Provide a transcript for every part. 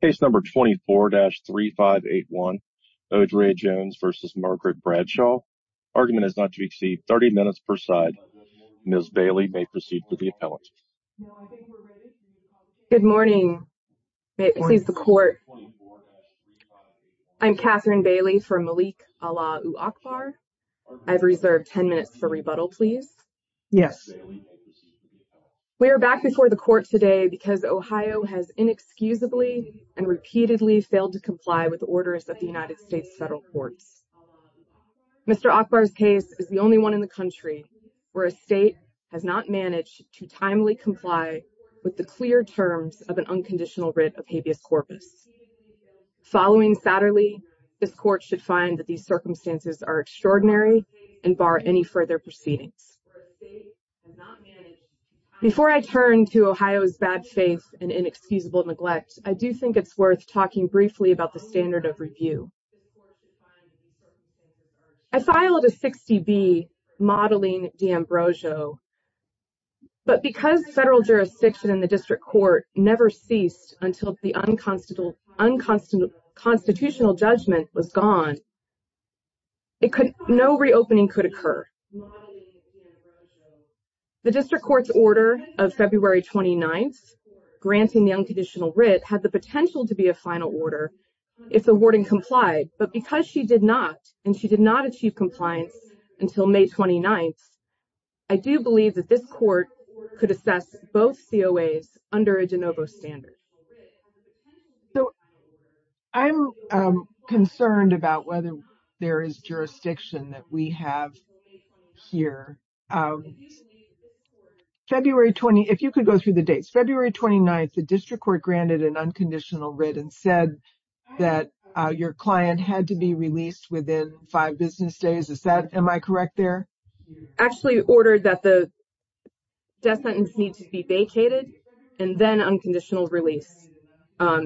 Argument is not to be exceeded. 30 minutes per side. Ms. Bailey may proceed with the appellate. Good morning. This is the court. I'm Catherine Bailey from Malik Allah Akbar. I've reserved 10 minutes for rebuttal, please. Yes. We are back before the court today because Ohio has inexcusably and repeatedly failed to comply with the orders of the United States federal courts. Mr. Akbar's case is the only one in the country where a state has not managed to timely comply with the clear terms of an unconditional writ of habeas corpus. Following Saturday, this court should find that these circumstances are extraordinary and bar any further proceedings. Before I turn to Ohio's bad faith and inexcusable neglect, I do think it's worth talking briefly about the standard of review. I filed a 60 B modeling d'Ambrosio. But because federal jurisdiction in the district court never ceased until the unconstitutional constitutional judgment was gone. It could no reopening could occur. The district court's order of February, 29th, granting the unconditional writ had the potential to be a final order. If the warden complied, but because she did not, and she did not achieve compliance until May, 29th. I do believe that this court could assess both under a de novo standard. So, I'm concerned about whether there is jurisdiction that we have here. February, 20, if you could go through the dates, February, 29th, the district court granted an unconditional written said that your client had to be released within 5 business days. Is that am I correct there? Actually ordered that the death sentence needs to be vacated and then unconditional release.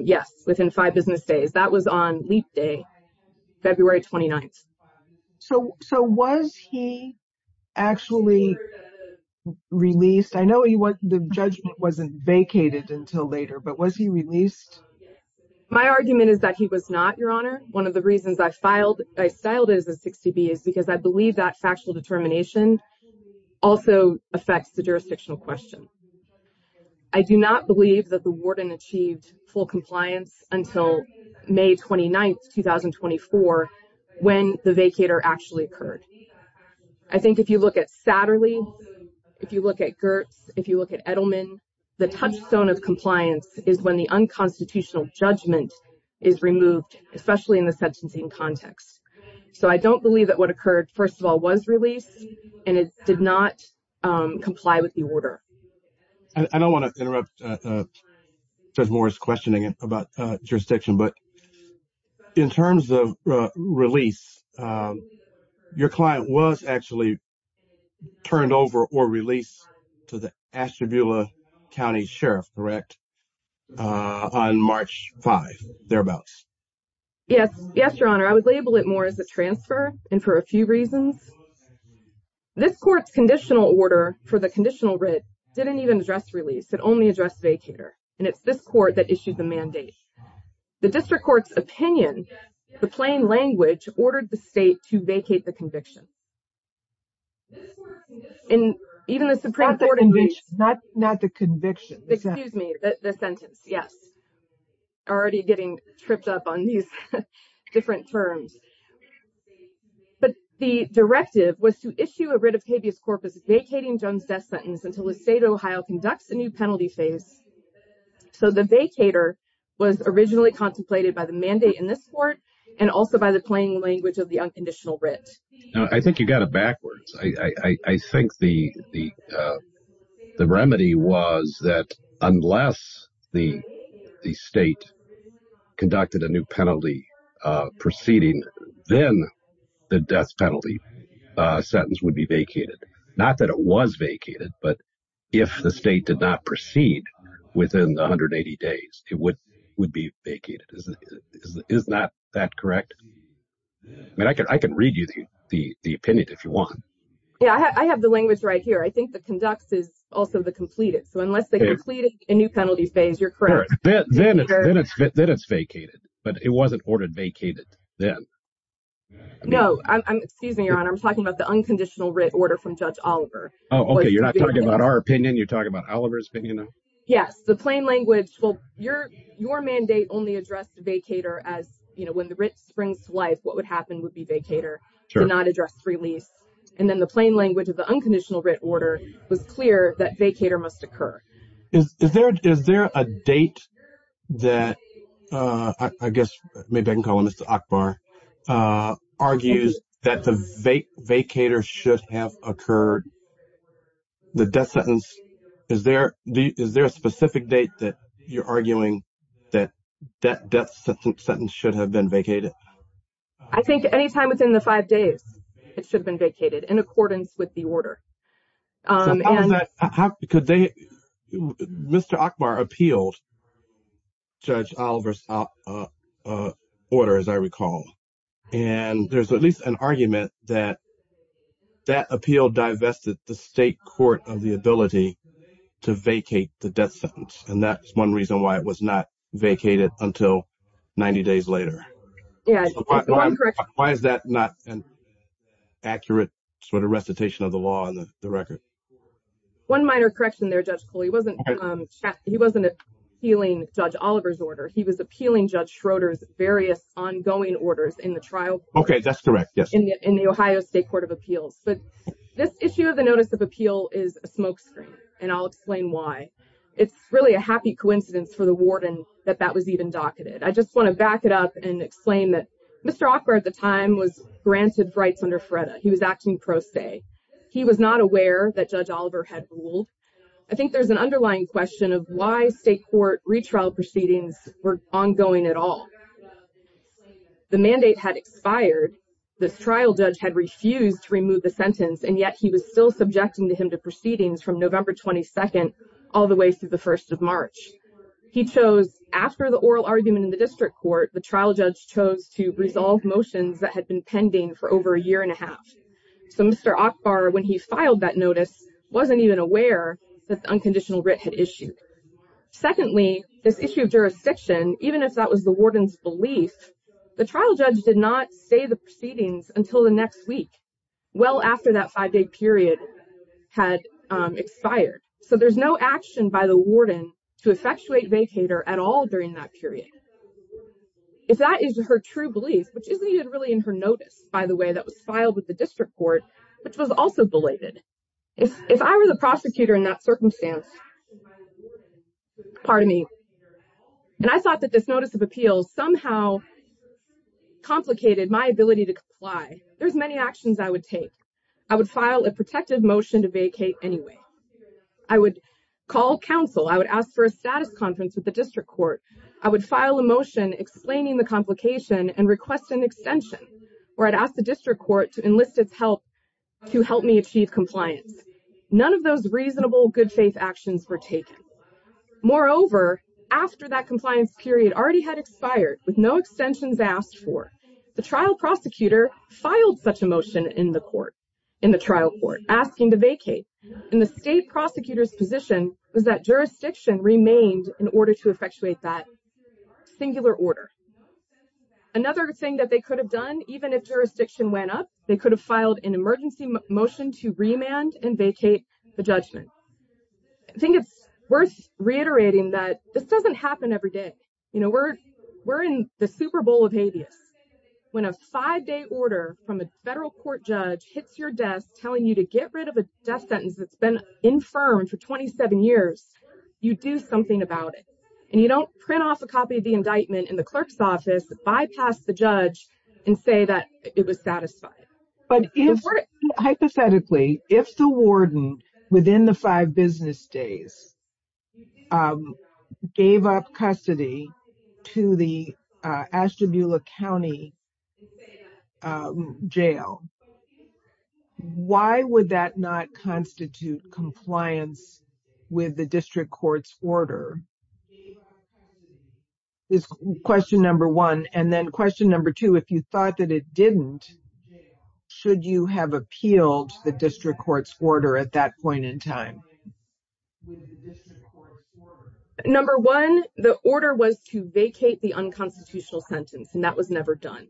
Yes, within 5 business days. That was on leap day, February, 29th. So, so was he actually released? I know he wasn't the judgment wasn't vacated until later, but was he released? My argument is that he was not your honor. One of the reasons I filed, I styled is a 60 B is because I believe that factual determination also affects the jurisdictional question. I do not believe that the warden achieved full compliance until May, 29th, 2024 when the vacator actually occurred. I think if you look at Saturday, if you look at Gertz, if you look at Edelman, the touchstone of compliance is when the unconstitutional judgment is removed, especially in the sentencing context. So, I don't believe that what occurred, first of all, was released and it did not comply with the order. I don't want to interrupt. There's more questioning about jurisdiction, but in terms of release, your client was actually turned over or release to the Ashtabula County Sheriff. Correct. On March 5, thereabouts. Yes, yes, your honor, I would label it more as a transfer and for a few reasons. This court's conditional order for the conditional read didn't even address release it only address vacator and it's this court that issued the mandate. The district court's opinion, the plain language ordered the state to vacate the conviction. And even the Supreme Court, not the conviction, excuse me, the sentence. Yes. Already getting tripped up on these different terms. But the directive was to issue a writ of habeas corpus vacating Jones death sentence until the state of Ohio conducts a new penalty phase. So, the vacator was originally contemplated by the mandate in this court and also by the plain language of the unconditional writ. I think you got it backwards. I think the the the remedy was that unless the state conducted a new penalty proceeding, then the death penalty sentence would be vacated. Not that it was vacated, but if the state did not proceed within 180 days, it would would be vacated. Is that correct? I mean, I can I can read you the opinion if you want. Yeah, I have the language right here. I think the conducts is also the completed. So unless they complete a new penalty phase, you're correct. Then it's then it's vacated. But it wasn't ordered vacated then. No, I'm excuse me, your honor. I'm talking about the unconditional writ order from Judge Oliver. Oh, OK. You're not talking about our opinion. You're talking about Oliver's opinion. Yes. The plain language. Well, your your mandate only addressed vacator as you know, when the writ springs to life, what would happen would be vacator. Do not address release. And then the plain language of the unconditional writ order was clear that vacator must occur. Is there is there a date that I guess maybe I can call on Mr. Akbar argues that the vacator should have occurred the death sentence? Is there is there a specific date that you're arguing that that death sentence should have been vacated? I think any time within the five days it should have been vacated in accordance with the order. Because they Mr. Akbar appealed. Judge Oliver's order, as I recall. And there's at least an argument that that appeal divested the state court of the ability to vacate the death sentence. And that's one reason why it was not vacated until 90 days later. Yeah. Why is that not an accurate sort of recitation of the law on the record? One minor correction there, Judge. He wasn't he wasn't appealing Judge Oliver's order. He was appealing Judge Schroeder's various ongoing orders in the trial. OK, that's correct. Yes. In the Ohio State Court of Appeals. But this issue of the notice of appeal is a smokescreen. And I'll explain why. It's really a happy coincidence for the warden that that was even docketed. I just want to back it up and explain that Mr. Akbar at the time was granted rights under Freda. He was acting pro se. He was not aware that Judge Oliver had ruled. I think there's an underlying question of why state court retrial proceedings were ongoing at all. The mandate had expired. This trial judge had refused to remove the sentence. And yet he was still subjecting him to proceedings from November 22nd all the way through the first of March. He chose after the oral argument in the district court, the trial judge chose to resolve motions that had been pending for over a year and a half. So, Mr. Akbar, when he filed that notice, wasn't even aware that the unconditional writ had issued. Secondly, this issue of jurisdiction, even if that was the warden's belief, the trial judge did not say the proceedings until the next week. Well, after that five day period had expired. So there's no action by the warden to effectuate vacator at all during that period. If that is her true beliefs, which isn't even really in her notice, by the way, that was filed with the district court, which was also belated. If I were the prosecutor in that circumstance. Pardon me. And I thought that this notice of appeals somehow complicated my ability to comply. There's many actions I would take. I would file a protective motion to vacate anyway. I would call counsel. I would ask for a status conference with the district court. I would file a motion explaining the complication and request an extension or I'd ask the district court to enlist its help to help me achieve compliance. None of those reasonable good faith actions were taken. Moreover, after that compliance period already had expired with no extensions asked for, the trial prosecutor filed such a motion in the court in the trial court asking to vacate. And the state prosecutor's position was that jurisdiction remained in order to effectuate that singular order. Another thing that they could have done, even if jurisdiction went up, they could have filed an emergency motion to remand and vacate the judgment. I think it's worth reiterating that this doesn't happen every day. You know, we're we're in the Super Bowl of habeas when a five day order from a federal court judge hits your desk telling you to get rid of a death sentence that's been infirmed for 27 years. You do something about it and you don't print off a copy of the indictment in the clerk's office, bypass the judge and say that it was satisfied. But hypothetically, if the warden within the five business days gave up custody to the Ashtabula County Jail, why would that not constitute compliance with the district court's order? Question number one, and then question number two, if you thought that it didn't, should you have appealed the district court's order at that point in time? Number one, the order was to vacate the unconstitutional sentence, and that was never done.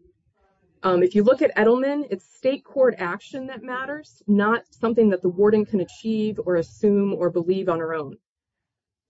If you look at Edelman, it's state court action that matters, not something that the warden can achieve or assume or believe on her own.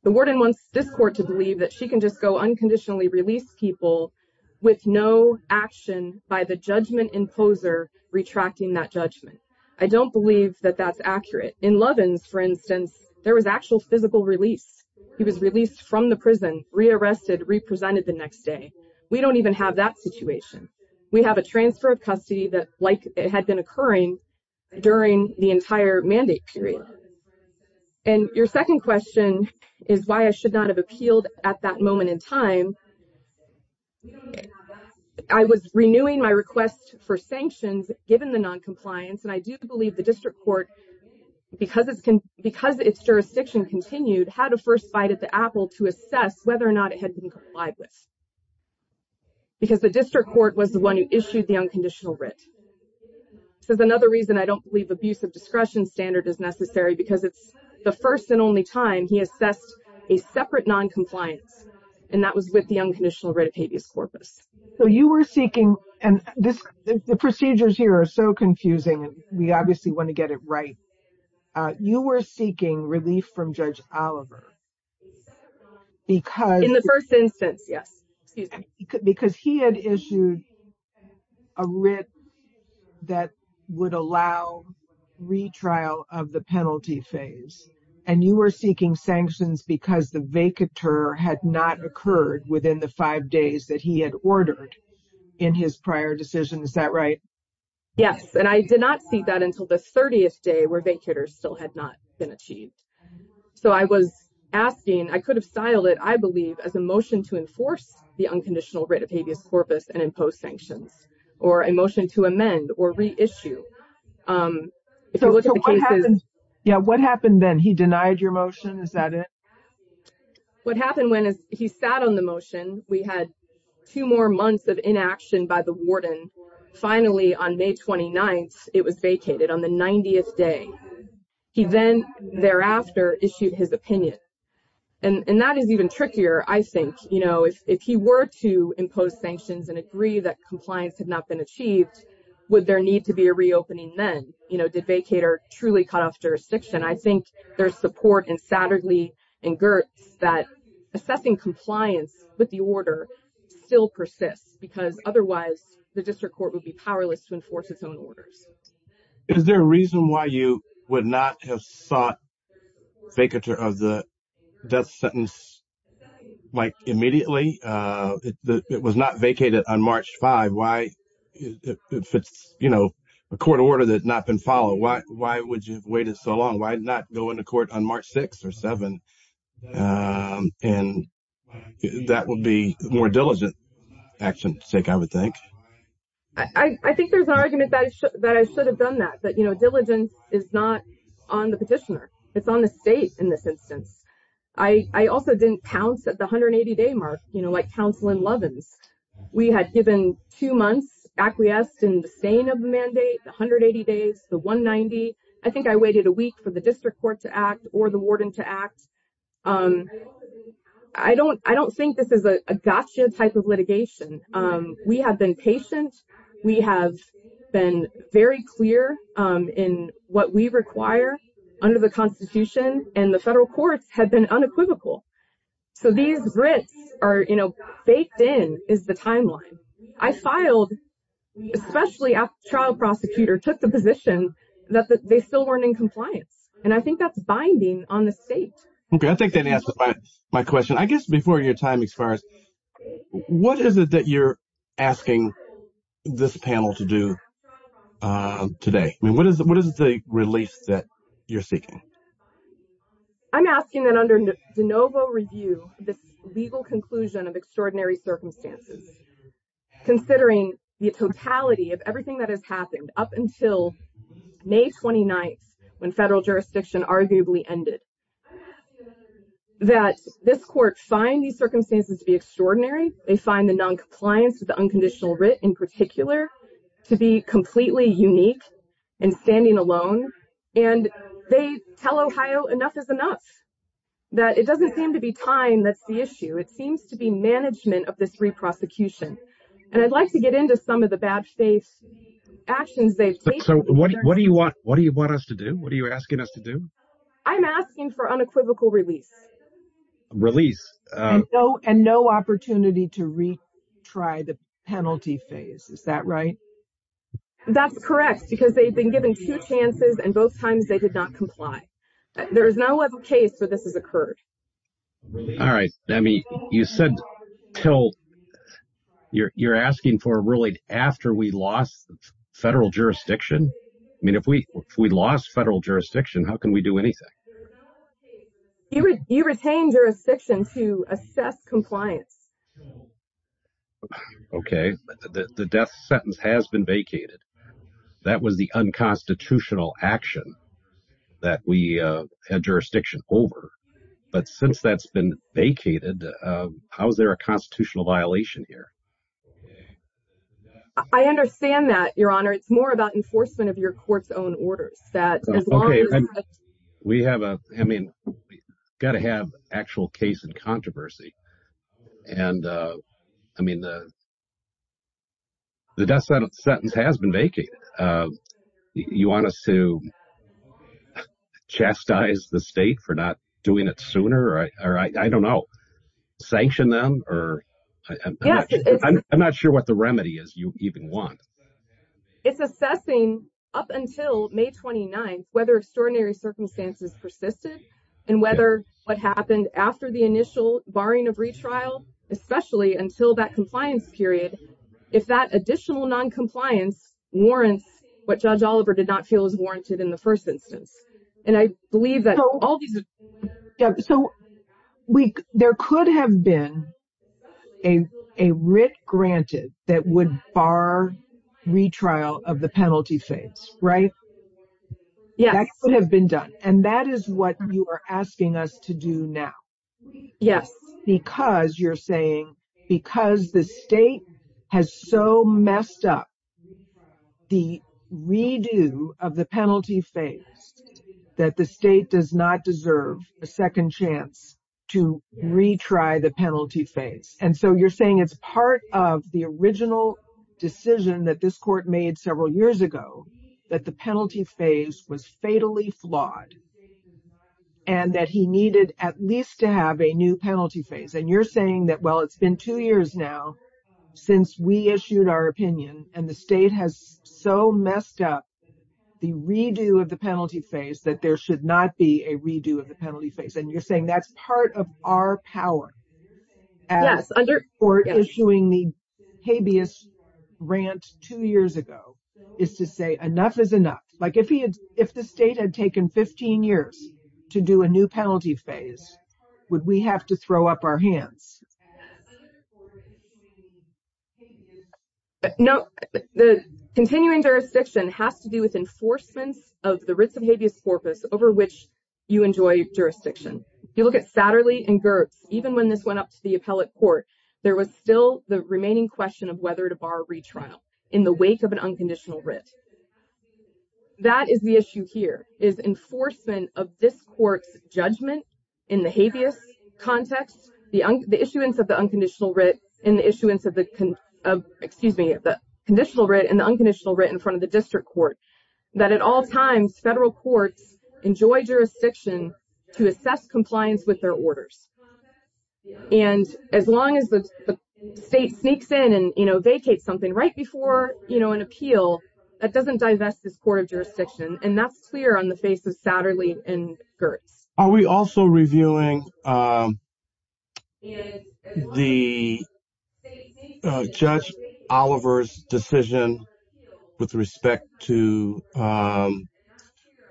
The warden wants this court to believe that she can just go unconditionally release people with no action by the judgment imposer retracting that judgment. I don't believe that that's accurate. In Lovin's, for instance, there was actual physical release. He was released from the prison, rearrested, represented the next day. We don't even have that situation. We have a transfer of custody that like it had been occurring during the entire mandate period. And your second question is why I should not have appealed at that moment in time. I was renewing my request for sanctions given the noncompliance. And I do believe the district court, because it's because its jurisdiction continued, had a first bite at the apple to assess whether or not it had been complied with. Because the district court was the one who issued the unconditional writ. There's another reason I don't believe abuse of discretion standard is necessary because it's the first and only time he assessed a separate noncompliance. And that was with the unconditional writ of habeas corpus. So you were seeking and the procedures here are so confusing and we obviously want to get it right. You were seeking relief from Judge Oliver. In the first instance, yes. Because he had issued a writ that would allow retrial of the penalty phase. And you were seeking sanctions because the vacatur had not occurred within the five days that he had ordered in his prior decision. Is that right? Yes, and I did not see that until the 30th day where vacatur still had not been achieved. So I was asking I could have styled it, I believe, as a motion to enforce the unconditional writ of habeas corpus and impose sanctions or emotion to amend or reissue. So what happened? Yeah, what happened then? He denied your motion. Is that it? What happened when he sat on the motion? We had two more months of inaction by the warden. Finally, on May 29th, it was vacated on the 90th day. He then thereafter issued his opinion. And that is even trickier. I think, you know, if he were to impose sanctions and agree that compliance had not been achieved, would there need to be a reopening then? You know, did vacatur truly cut off jurisdiction? I think there's support in Satterley and Gertz that assessing compliance with the order still persists because otherwise the district court would be powerless to enforce its own orders. Is there a reason why you would not have sought vacatur of the death sentence, like, immediately? It was not vacated on March 5. If it's, you know, a court order that had not been followed, why would you have waited so long? Why not go into court on March 6 or 7? And that would be more diligent action, I would think. I think there's an argument that I should have done that, that, you know, diligence is not on the petitioner. It's on the state in this instance. I also didn't pounce at the 180-day mark, you know, like Councilman Lovins. We had given two months acquiesced in the staying of the mandate, the 180 days, the 190. I think I waited a week for the district court to act or the warden to act. I don't think this is a gotcha type of litigation. We have been patient. We have been very clear in what we require under the Constitution, and the federal courts have been unequivocal. So these grits are, you know, baked in is the timeline. I filed, especially after the trial prosecutor took the position that they still weren't in compliance. And I think that's binding on the state. Okay, I think that answers my question. I guess before your time expires, what is it that you're asking this panel to do today? I mean, what is the release that you're seeking? I'm asking that under de novo review, this legal conclusion of extraordinary circumstances, considering the totality of everything that has happened up until May 29th, when federal jurisdiction arguably ended, that this court find these circumstances to be extraordinary. They find the noncompliance with the unconditional writ in particular to be completely unique and standing alone. And they tell Ohio enough is enough, that it doesn't seem to be time that's the issue. It seems to be management of this re-prosecution. And I'd like to get into some of the bad faith actions they've taken. So what do you want us to do? What are you asking us to do? I'm asking for unequivocal release. And no opportunity to retry the penalty phase. Is that right? That's correct, because they've been given two chances, and both times they did not comply. There is no other case where this has occurred. All right. I mean, you said you're asking for a ruling after we lost federal jurisdiction? I mean, if we lost federal jurisdiction, how can we do anything? You retain jurisdiction to assess compliance. Okay. The death sentence has been vacated. That was the unconstitutional action that we had jurisdiction over. But since that's been vacated, how is there a constitutional violation here? I understand that, Your Honor. It's more about enforcement of your court's own orders. Okay. I mean, we've got to have actual case and controversy. And, I mean, the death sentence has been vacated. You want us to chastise the state for not doing it sooner? Or, I don't know, sanction them? I'm not sure what the remedy is you even want. It's assessing up until May 29th whether extraordinary circumstances persisted and whether what happened after the initial barring of retrial, especially until that compliance period, if that additional noncompliance warrants what Judge Oliver did not feel was warranted in the first instance. So there could have been a writ granted that would bar retrial of the penalty phase, right? Yes. That could have been done. And that is what you are asking us to do now. Yes. Because you're saying because the state has so messed up the redo of the penalty phase, that the state does not deserve a second chance to retry the penalty phase. And so you're saying it's part of the original decision that this court made several years ago that the penalty phase was fatally flawed and that he needed at least to have a new penalty phase. And you're saying that, well, it's been two years now since we issued our opinion and the state has so messed up the redo of the penalty phase that there should not be a redo of the penalty phase. And you're saying that's part of our power. Yes. Or issuing the habeas rant two years ago is to say enough is enough. Like if he had, if the state had taken 15 years to do a new penalty phase, would we have to throw up our hands? No, the continuing jurisdiction has to do with enforcements of the writs of habeas corpus over which you enjoy jurisdiction. You look at Satterley and Gertz, even when this went up to the appellate court, there was still the remaining question of whether to bar retrial in the wake of an unconditional writ. That is the issue here is enforcement of this court's judgment in the habeas context. The issuance of the unconditional writ in the issuance of the, excuse me, the conditional writ and the unconditional written in front of the district court that at all times, federal courts enjoy jurisdiction to assess compliance with their orders. And as long as the state sneaks in and, you know, vacate something right before, you know, an appeal that doesn't divest this court of jurisdiction. And that's clear on the face of Satterley and Gertz. Are we also reviewing the judge Oliver's decision with respect to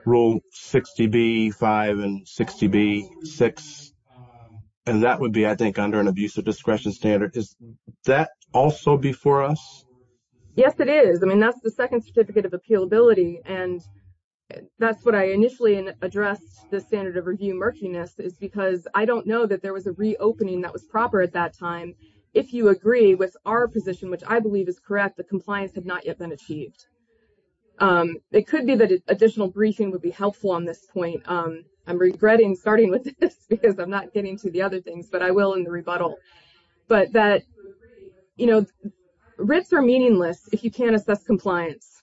rule 60B5 and 60B6? And that would be, I think under an abusive discretion standard. Is that also before us? Yes, it is. I mean, that's the second certificate of appealability. And that's what I initially addressed. The standard of review murkiness is because I don't know that there was a reopening that was proper at that time. If you agree with our position, which I believe is correct, the compliance had not yet been achieved. It could be that additional briefing would be helpful on this point. I'm regretting starting with this because I'm not getting to the other things, but I will in the rebuttal. But that, you know, RITs are meaningless if you can't assess compliance.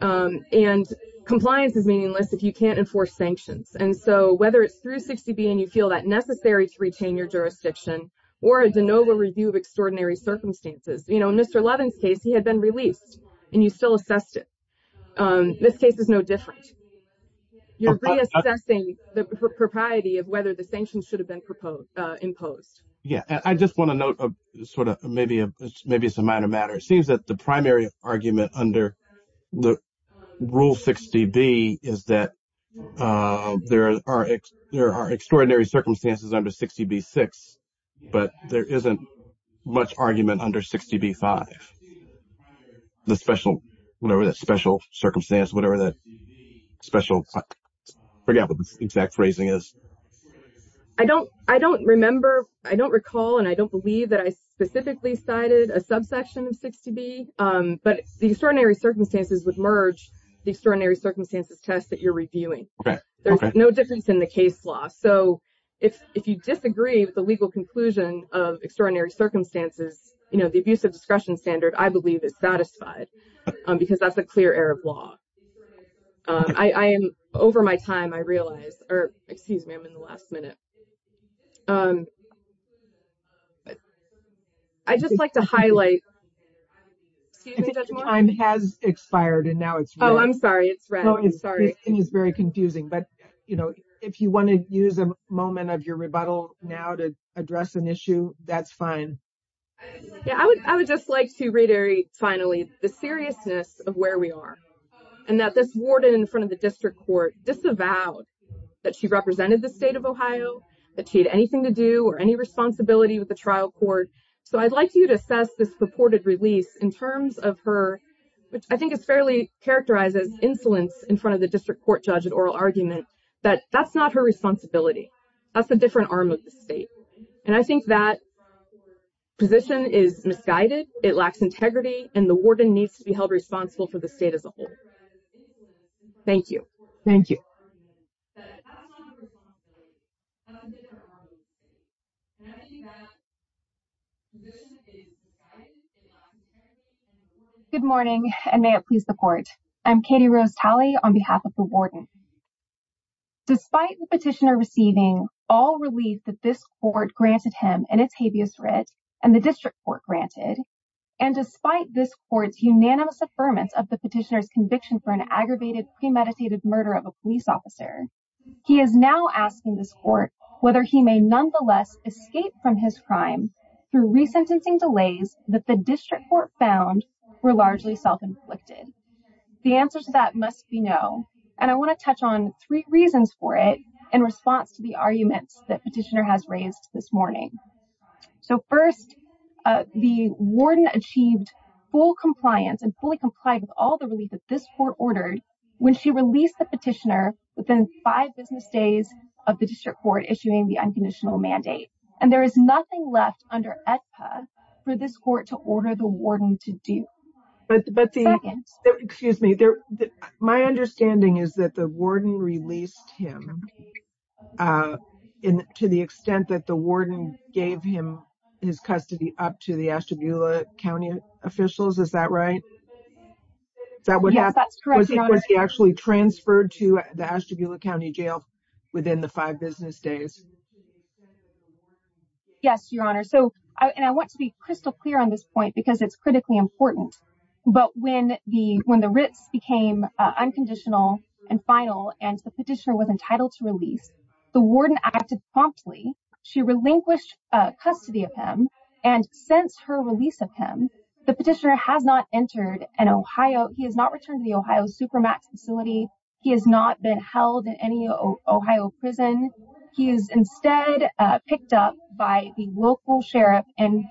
And compliance is meaningless if you can't enforce sanctions. And so whether it's through 60B and you feel that necessary to retain your jurisdiction or a de novo review of extraordinary circumstances, you know, in Mr. Levin's case, he had been released and you still assessed it. This case is no different. You're reassessing the propriety of whether the sanctions should have been imposed. Yeah. I just want to note sort of maybe, maybe it's a minor matter. It seems that the primary argument under the rule 60B is that there are, there are extraordinary circumstances under 60B-6, but there isn't much argument under 60B-5. The special, whatever that special circumstance, whatever that special, I forgot what the exact phrasing is. I don't, I don't remember, I don't recall, and I don't believe that I specifically cited a subsection of 60B, but the extraordinary circumstances would merge the extraordinary circumstances test that you're reviewing. There's no difference in the case law. So if you disagree with the legal conclusion of extraordinary circumstances, you know, the abuse of discretion standard, I believe is satisfied because that's a clear error of law. I am over my time. I realize, or excuse me, I'm in the last minute. I'd just like to highlight. Excuse me, Judge Moore. Time has expired and now it's. Oh, I'm sorry. It's red. I'm sorry. It's very confusing, but you know, if you want to use a moment of your rebuttal now to address an issue, that's fine. Yeah. I would, I would just like to reiterate finally, the seriousness of where we are and that this warden in front of the district court disavowed that she represented the state of Ohio, that she had anything to do or any responsibility with the trial court. So I'd like you to assess this purported release in terms of her, which I think is fairly characterized as insolence in front of the district court judge at oral argument, that that's not her responsibility. That's a different arm of the state. And I think that position is misguided. It lacks integrity and the warden needs to be held responsible for the state as a whole. Thank you. Thank you. Good morning. And may it please the court. I'm Katie Rose Talley on behalf of the warden. Despite the petitioner receiving all relief that this court granted him and the district court granted, and despite this court's unanimous affirmance of the petitioner's conviction for an aggravated premeditated murder of a police officer, he is now asking this court whether he may nonetheless escape from his crime through resentencing delays that the district court found were largely self-inflicted. The answer to that must be no. And I want to touch on three reasons for it in response to the arguments that petitioner has raised this morning. So first, the warden achieved full compliance and fully complied with all the relief that this court ordered when she released the petitioner within five business days of the district court issuing the unconditional mandate. And there is nothing left under EDPA for this court to order the warden to do. But, but the, excuse me, my understanding is that the warden released him to the extent that the Ashtabula County officials, is that right? Was he actually transferred to the Ashtabula County jail within the five business days? Yes, Your Honor. So, and I want to be crystal clear on this point because it's critically important, but when the Ritz became unconditional and final and the petitioner was entitled to release, the warden acted promptly. She relinquished custody of him. And since her release of him, the petitioner has not entered an Ohio. He has not returned to the Ohio Supermax facility. He has not been held in any Ohio prison. He is instead picked up by the local sheriff and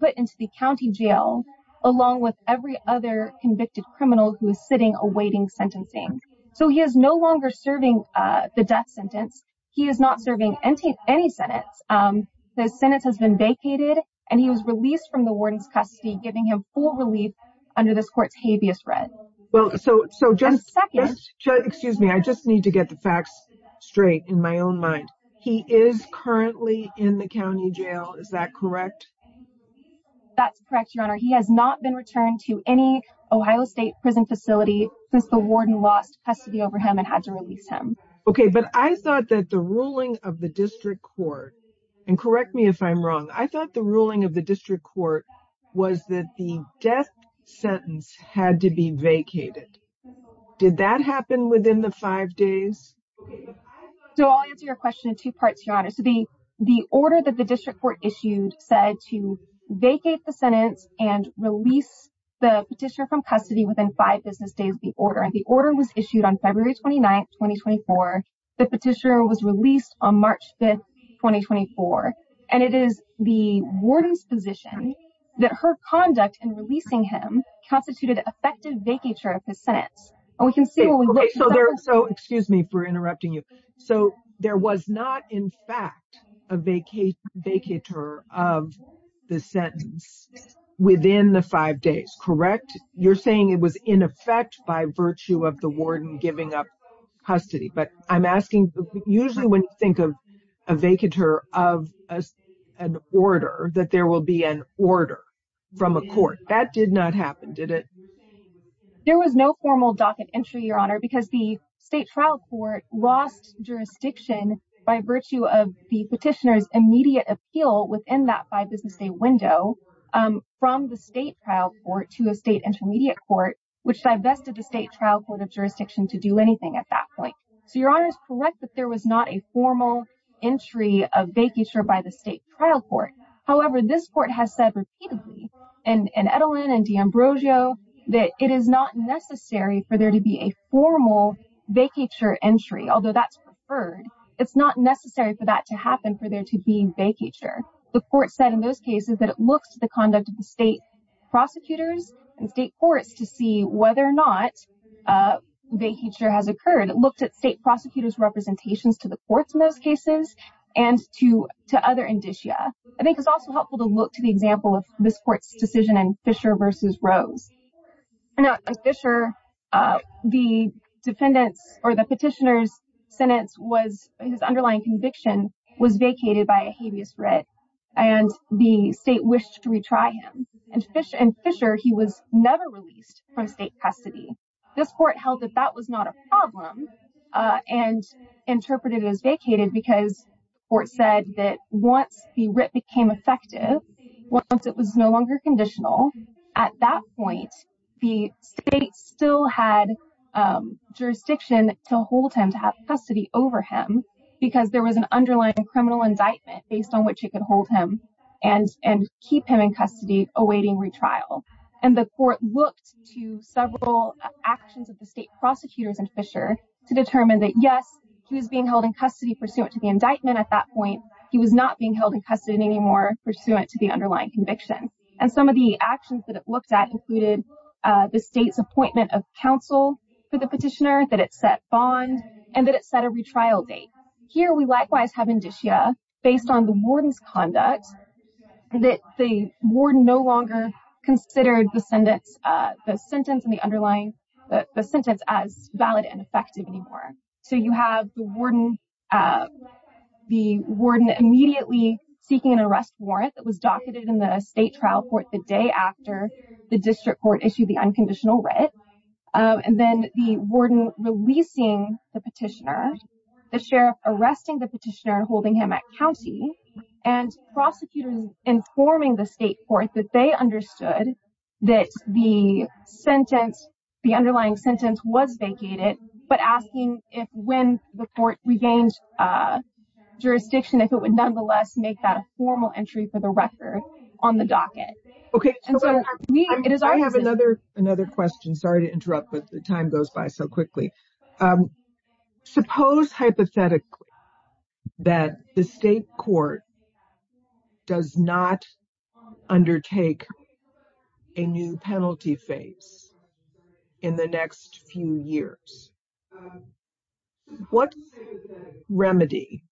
put into the County jail along with every other convicted criminal who is sitting awaiting sentencing. So he is no longer serving the death sentence. He is not serving any sentence. The sentence has been vacated and he was released from the warden's custody, giving him full relief under this court's habeas red. Well, so, so just, excuse me, I just need to get the facts straight in my own mind. He is currently in the County jail. Is that correct? That's correct, Your Honor. He has not been returned to any Ohio state prison facility since the warden lost custody over him and had to release him. Okay. But I thought that the ruling of the district court, and correct me if I'm wrong, I thought the ruling of the district court was that the death sentence had to be vacated. Did that happen within the five days? So I'll answer your question in two parts, Your Honor. The order that the district court issued said to vacate the sentence and release the petitioner from custody within five business days of the order. And the order was issued on February 29th, 2024. The petitioner was released on March 5th, 2024. And it is the warden's position that her conduct in releasing him constituted effective vacature of his sentence. And we can see. So there, so excuse me for interrupting you. So there was not in fact a vacate vacature of the sentence within the five days, correct? You're saying it was in effect by virtue of the warden giving up custody, but I'm asking usually when you think of a vacature of an order that there will be an order from a court that did not happen, did it? There was no formal docket entry, Your Honor, because the state trial court lost jurisdiction by virtue of the petitioner's immediate appeal within that five business day window from the state trial court to a state intermediate court, which divested the state trial court of jurisdiction to do anything at that point. So Your Honor is correct, that there was not a formal entry of vacature by the state trial court. However, this court has said repeatedly and, and Edelman and D'Ambrosio, that it is not necessary for there to be a formal vacature entry, although that's preferred. It's not necessary for that to happen for there to be vacature. The court said in those cases that it looks to the conduct of the state prosecutors and state courts to see whether or not a vacature has occurred. It looked at state prosecutors' representations to the courts in those cases and to, to other indicia. I think it's also helpful to look to the example of this court's decision and Fisher versus Rose. Now, as Fisher, the defendants or the petitioner's sentence was his underlying conviction was vacated by a habeas writ and the state wished to retry him. And Fisher, he was never released from state custody. This court held that that was not a problem and interpreted it as vacated because the court said that once the writ became effective, once it was no longer conditional, at that point, the state still had jurisdiction to hold him, to have custody over him because there was an underlying criminal indictment based on what she could hold him and, and keep him in custody awaiting retrial. And the court looked to several actions of the state prosecutors and Fisher to determine that yes, he was being held in custody pursuant to the indictment at that point, he was not being held in custody anymore pursuant to the underlying conviction. And some of the actions that it looked at included the state's appointment of counsel for the petitioner, that it set bond and that it set a retrial date. Here we likewise have indicia based on the warden's conduct, that the warden no longer considered the sentence, the sentence and the underlying the sentence as valid and effective anymore. So you have the warden, the warden immediately seeking an arrest warrant that was docketed in the state trial court the day after the district court issued the unconditional writ. And then the warden releasing the petitioner, the sheriff arresting the petitioner holding him at County and prosecutors informing the state court that they understood that the sentence, the underlying sentence was vacated, but asking if when the court regained jurisdiction, if it would nonetheless make that a formal entry for the record on the docket. Okay. I have another, another question. Sorry to interrupt, but the time goes by so quickly. Suppose hypothetically that the state court does not undertake a new penalty phase in the next few years. What remedy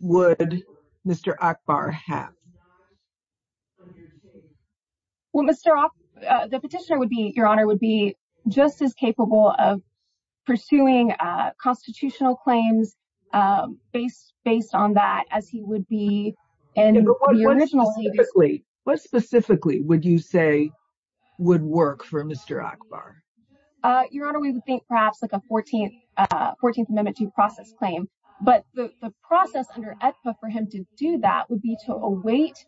would Mr. Akbar have? Well, Mr. Off the petitioner would be, your honor would be just as capable of pursuing a constitutional claims based on that as he would be. What specifically would you say would work for Mr. Akbar? Your honor, we would think perhaps like a 14th, 14th amendment to process claim, but the process under for him to do that would be to await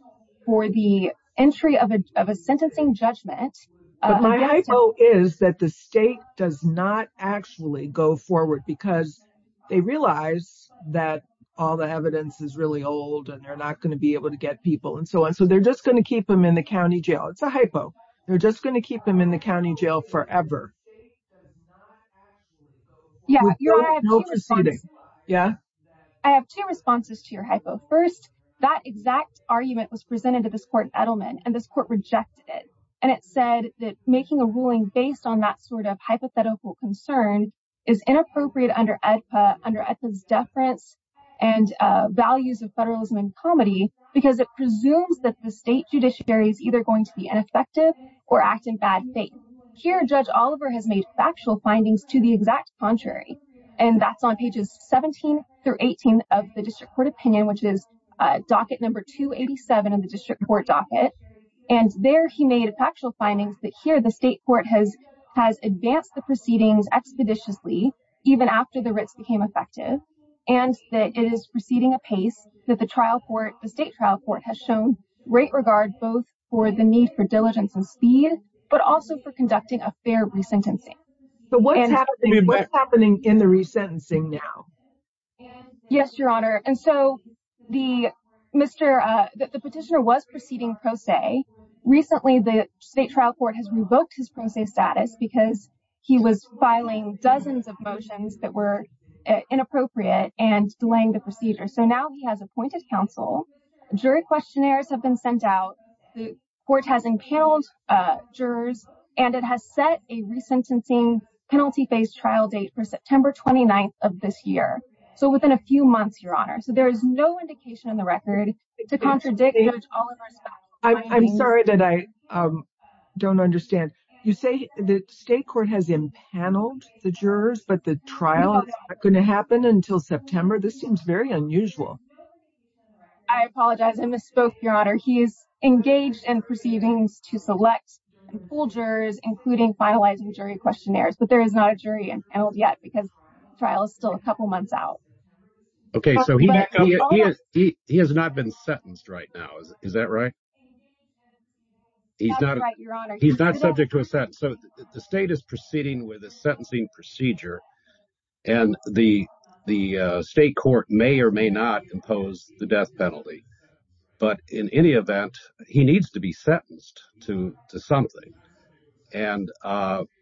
for the entry of a, of a sentencing judgment. My hypo is that the state does not actually go forward because they realize that all the evidence is really old and they're not going to be able to get people and so on. So they're just going to keep them in the County jail. It's a hypo. They're just going to keep them in the County jail forever. Yeah. I have two responses to your hypo. First, that exact argument was presented to this court in Edelman and this court rejected it. And it said that making a ruling based on that sort of hypothetical concern is inappropriate under EDPA under ethics, deference and values of federalism and comedy, because it presumes that the state judiciary is either going to be ineffective or act in bad faith here. Judge Oliver has made factual findings to the exact contrary, and that's on pages 17 through 18 of the district court opinion, which is a docket number 287 in the district court docket. And there he made a factual findings that here the state court has, has advanced the proceedings expeditiously, even after the writs became effective and that it is proceeding a pace that the trial court, the state trial court has shown great regard both for the need for diligence and speed, but also for conducting a fair re-sentencing. But what's happening in the resentencing now? Yes, your honor. And so the Mr. The petitioner was proceeding pro se recently. The state trial court has revoked his process status because he was filing dozens of motions that were inappropriate and delaying the procedure. So now he has appointed counsel jury questionnaires have been sent out. The court has impaled jurors and it has set a resentencing penalty based trial date for September 29th of this year. So within a few months, your honor. So there is no indication in the record to contradict. I'm sorry that I don't understand. You say the state court has impaneled the jurors, but the trial is not going to happen until September. This seems very unusual. I apologize. I misspoke your honor. He is engaged in proceedings to select full jurors, including finalizing jury questionnaires, but there is not a jury and held yet because trial is still a couple months out. Okay. So he has not been sentenced right now. Is that right? He's not, he's not subject to a sentence. So the state is proceeding with a sentencing procedure and the, the state court may or may not impose the death penalty, but in any event, he needs to be sentenced to something. And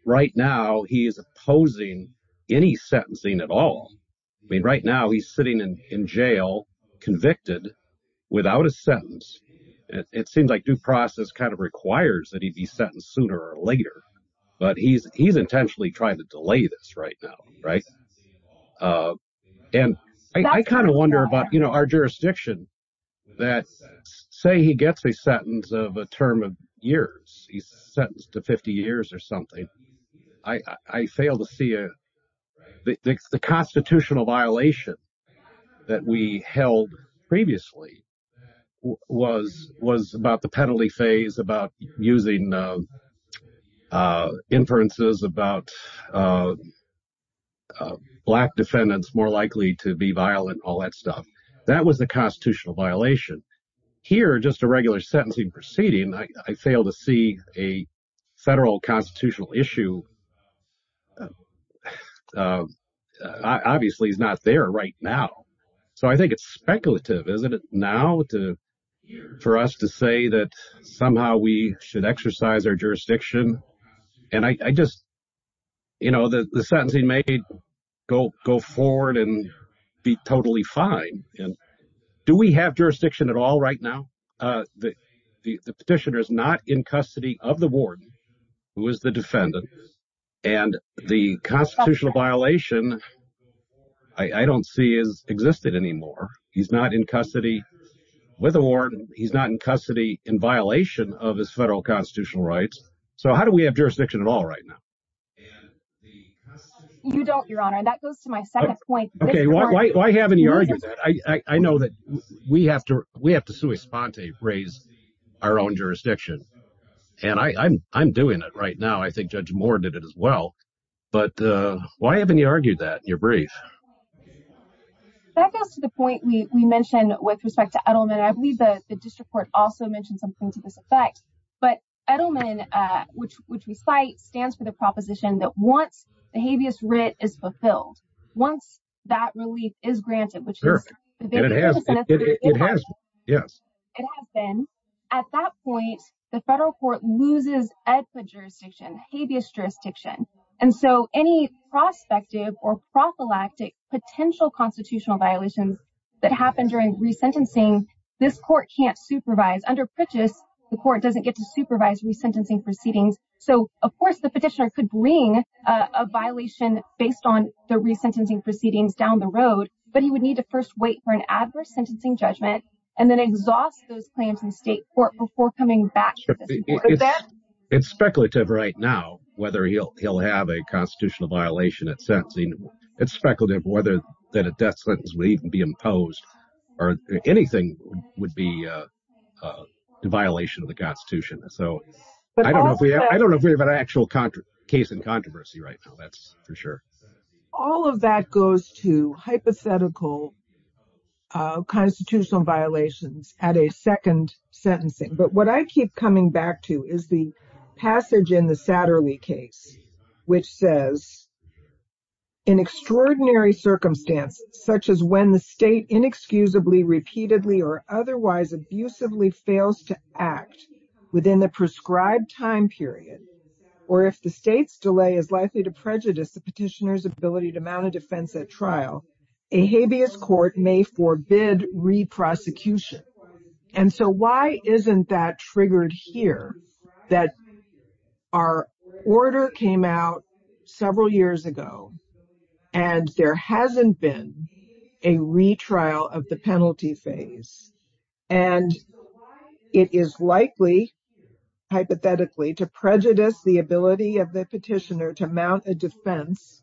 right now he is opposing any sentencing at all. I mean, right now he's sitting in jail convicted without a sentence. It seems like due process kind of requires that he'd be sentenced sooner or later, but he's, he's intentionally trying to delay this right now. Right. And I kind of wonder about, you know, our jurisdiction that say he gets a sentence of a term of years, he's sentenced to 50 years or something. I, I failed to see the constitutional violation that we held previously was, was about the penalty phase about using inferences about black defendants more likely to be violent, all that stuff. That was the constitutional violation here, just a regular sentencing proceeding. I failed to see a federal constitutional issue. Obviously he's not there right now. So I think it's speculative. Isn't it now to, for us to say that somehow we should exercise our jurisdiction. And I just, you know, the, the sentencing may go, go forward and be totally fine. Do we have jurisdiction at all right now? Uh, the, the, the petitioner is not in custody of the warden who is the defendant and the constitutional violation I don't see is existed anymore. He's not in custody with a warden. He's not in custody in violation of his federal constitutional rights. So how do we have jurisdiction at all right now? You don't your honor. And that goes to my second point. Okay. Why, why, why haven't you argued that? I, I, I know that we have to, we have to sue a sponte raise our own jurisdiction and I I'm, I'm doing it right now. I think judge Moore did it as well, but uh, why haven't you argued that you're brief? That goes to the point we mentioned with respect to Edelman. I believe that the district court also mentioned something to this effect, but Edelman, uh, which, which we cite stands for the proposition that once the habeas writ is fulfilled, once that relief is granted, which it has been at that point, the federal court loses at the jurisdiction habeas jurisdiction. And so any prospective or prophylactic potential constitutional violations that happened during resentencing, this court can't supervise under purchase. The court doesn't get to supervise resentencing proceedings. So of course the petitioner could bring a violation based on the resentencing proceedings down the road, but he would need to first wait for an adverse sentencing judgment and then exhaust those claims in state court before coming back. It's speculative right now, whether he'll, he'll have a constitutional violation at sentencing. It's speculative whether that a death sentence would even be imposed or anything would be a violation of the constitution. So I don't know if we have an actual contract case in controversy right now. That's for sure. All of that goes to hypothetical, uh, constitutional violations at a second sentencing. But what I keep coming back to is the passage in the Saturday case, which says in extraordinary circumstances, such as when the state inexcusably repeatedly or otherwise abusively fails to act within the prescribed time period, or if the state's delay is likely to prejudice the petitioner's ability to mount a defense at trial, a habeas court may forbid re-prosecution. And so why isn't that triggered here that our order came out several years ago and there hasn't been a retrial of the penalty phase and it is likely hypothetically to prejudice the ability of the petitioner to mount a defense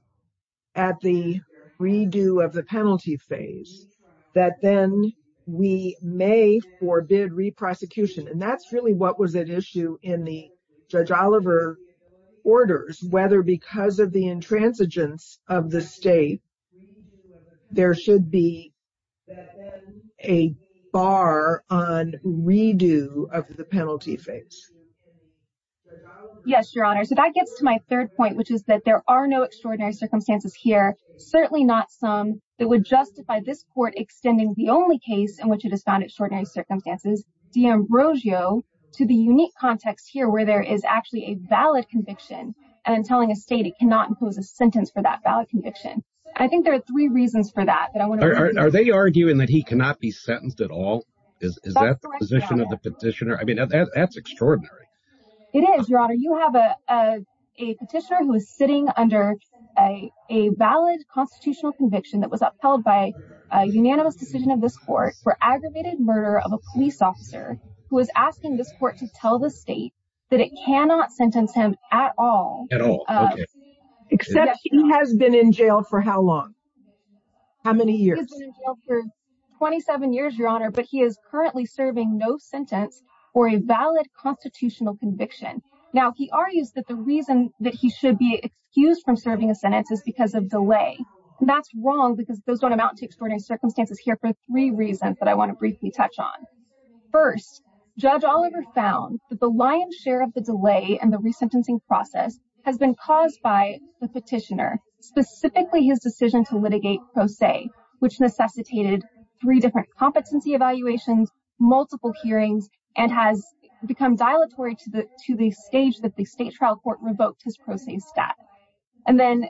at the redo of the penalty phase that then we may forbid re-prosecution. And that's really what was at issue in the judge Oliver orders, whether because of the intransigence of the state, there should be a bar on redo of the penalty phase. Yes, Your Honor. So that gets to my third point, which is that there are no extraordinary circumstances here. Certainly not some that would justify this court extending the only case in which it is found extraordinary circumstances, D'Ambrosio to the unique context here where there is actually a valid conviction and telling a state it cannot impose a sentence for that valid conviction. I think there are three reasons for that. Are they arguing that he cannot be sentenced at all? Is that the position of the petitioner? I mean, that's extraordinary. It is, Your Honor. You have a petitioner who is sitting under a, a valid constitutional conviction that was upheld by a unanimous decision of this court for aggravated murder of a police officer who is asking this court to tell the state that it cannot sentence him at all. Except he has been in jail for how long? How many years? 27 years, Your Honor, but he is currently serving no sentence or a valid constitutional conviction. Now, he argues that the reason that he should be excused from serving a sentence is because of delay. And that's wrong because those don't amount to extraordinary circumstances here for three reasons that I want to briefly touch on. First, Judge Oliver found that the lion's share of the delay and the resentencing process has been caused by the petitioner, specifically his decision to litigate pro se, which necessitated three different competency evaluations, multiple hearings and has become dilatory to the, to the stage that the state trial court revoked his pro se stat. And then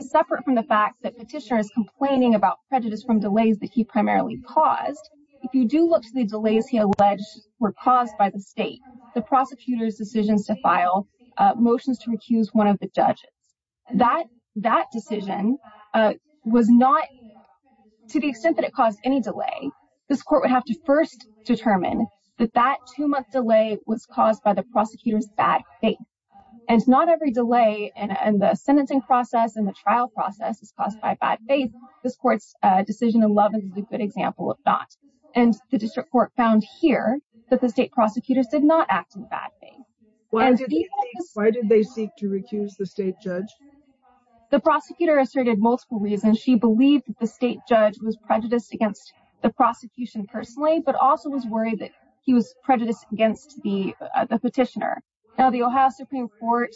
separate from the fact that petitioner is complaining about prejudice from delays that he primarily caused. If you do look to the delays he alleged were caused by the state, the prosecutor's decisions to file motions to recuse one of the judges. That, that decision was not to the extent that it caused any delay. This court would have to first determine that that two month delay was caused by the prosecutor's bad faith. And it's not every delay and the sentencing process and the trial process is caused by bad faith. This court's decision in love is a good example of not. And the district court found here that the state prosecutors did not act in bad faith. Why did they seek to recuse the state judge? The prosecutor asserted multiple reasons. She believed that the state judge was prejudiced against the prosecution personally, but also was worried that he was prejudiced against the, the petitioner. Now the Ohio Supreme court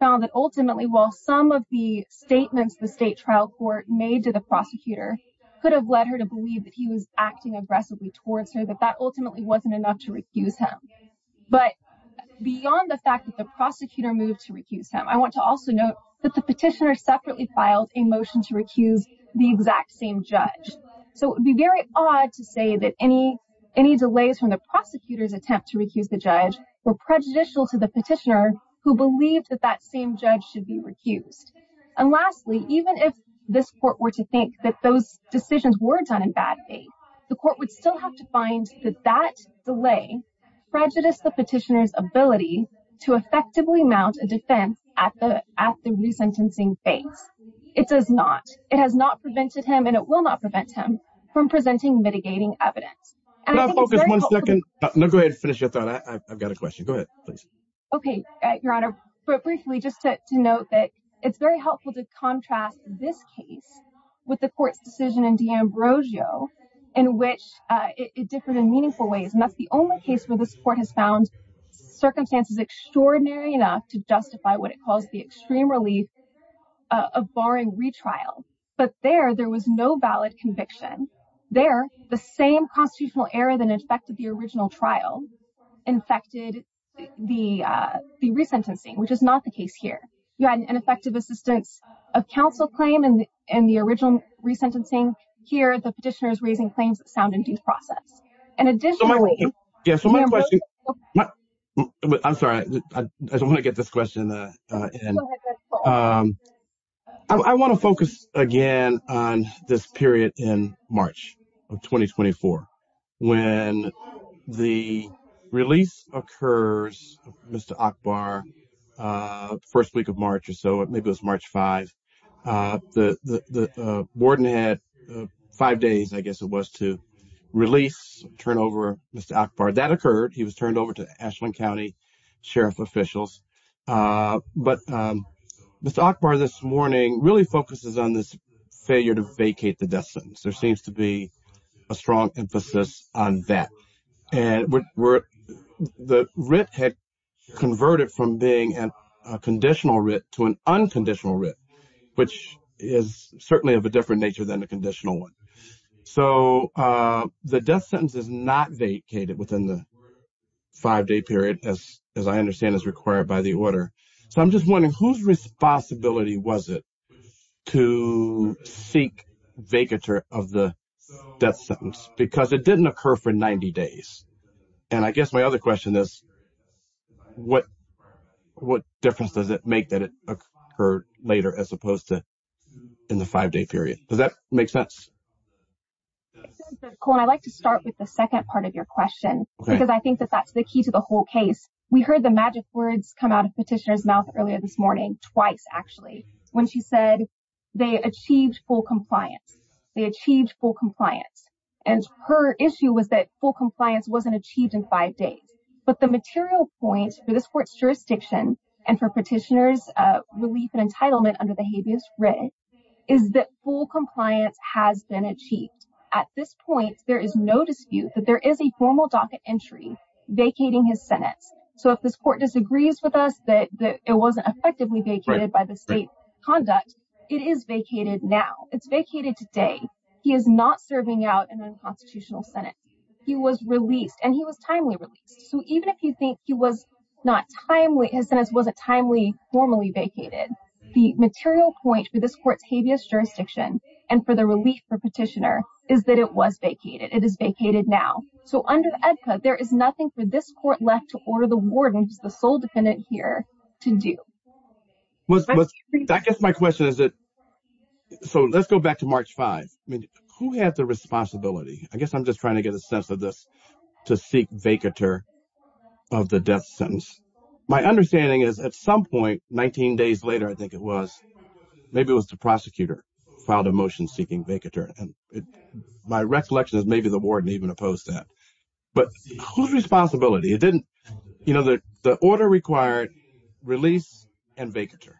found that ultimately, while some of the statements, the state trial court made to the prosecutor could have led her to believe that he was acting aggressively towards her, that that ultimately wasn't enough to recuse him. But beyond the fact that the prosecutor moved to recuse him, I want to also note that the petitioner separately filed a motion to recuse the exact same judge. So it would be very odd to say that any, any delays from the prosecutor's attempt to recuse the judge were prejudicial to the petitioner who believed that that same judge should be recused. And lastly, even if this court were to think that those decisions were done in bad faith, the court would still have to find that that delay prejudice, the petitioner's ability to effectively mount a defense at the, at the re-sentencing phase. It does not, it has not prevented him and it will not prevent him from presenting mitigating evidence. Can I focus one second? No, go ahead and finish your thought. I've got a question. Go ahead, please. Okay. Your honor, but briefly, just to note that it's very helpful to contrast this case with the court's decision in D'Ambrosio in which it differed in meaningful ways. And that's the only case where the support has found circumstances extraordinary enough to justify what it calls the extreme relief of barring retrial. But there, there was no valid conviction there. The same constitutional error than infected the original trial infected the, the re-sentencing, which is not the case here. You had an effective assistance of counsel claim in the, in the original re-sentencing here, the petitioner's raising claims that sound in due process. And additionally. Yeah. So my question, I'm sorry, I don't want to get this question. I want to focus again on this period in March of 2024, when the release occurs, Mr. Akbar first week of March or so, maybe it was March five. The warden had five days, I guess it was to release, turn over Mr. Akbar that occurred. He was turned over to Ashland County sheriff officials. But Mr. Akbar this morning really focuses on this failure to vacate the death sentence. There seems to be a strong emphasis on that. And the writ had converted from being a conditional writ to an unconditional writ, which is certainly of a different nature than the conditional one. So the death sentence is not vacated within the five day period as, as I understand is required by the order. So I'm just wondering whose responsibility was it to seek vacature of the death sentence? Because it didn't occur for 90 days. And I guess my other question is what, what difference does it make that it occurred later as opposed to in the five day period? Does that make sense? I'd like to start with the second part of your question, because I think that that's the key to the whole case. We heard the magic words come out of petitioner's mouth earlier this morning twice, actually, when she said they achieved full compliance, they achieved full compliance. And her issue was that full compliance wasn't achieved in five days, but the material point for this court's jurisdiction and for petitioner's relief and entitlement under the habeas writ is that full compliance has been achieved at this point. There is no dispute that there is a formal docket entry vacating his Senate. So if this court disagrees with us, that it wasn't effectively vacated by the state conduct, it is vacated. Now it's vacated today. He is not serving out an unconstitutional Senate. He was released and he was timely released. So even if you think he was not timely, his sentence wasn't timely, formally vacated, the material point for this court's habeas jurisdiction and for the relief for petitioner is that it was vacated. It is vacated now. So under EDCA, there is nothing for this court left to order the wardens, the sole defendant here to do. I guess my question is that, so let's go back to March 5th. I mean, who had the responsibility? I guess I'm just trying to get a sense of this to seek vacatur of the death sentence. My understanding is at some point, 19 days later, I think it was, maybe it was the prosecutor filed a motion seeking vacatur. And my recollection is maybe the warden even opposed that, but whose responsibility? It didn't, you know, the order required release and vacatur.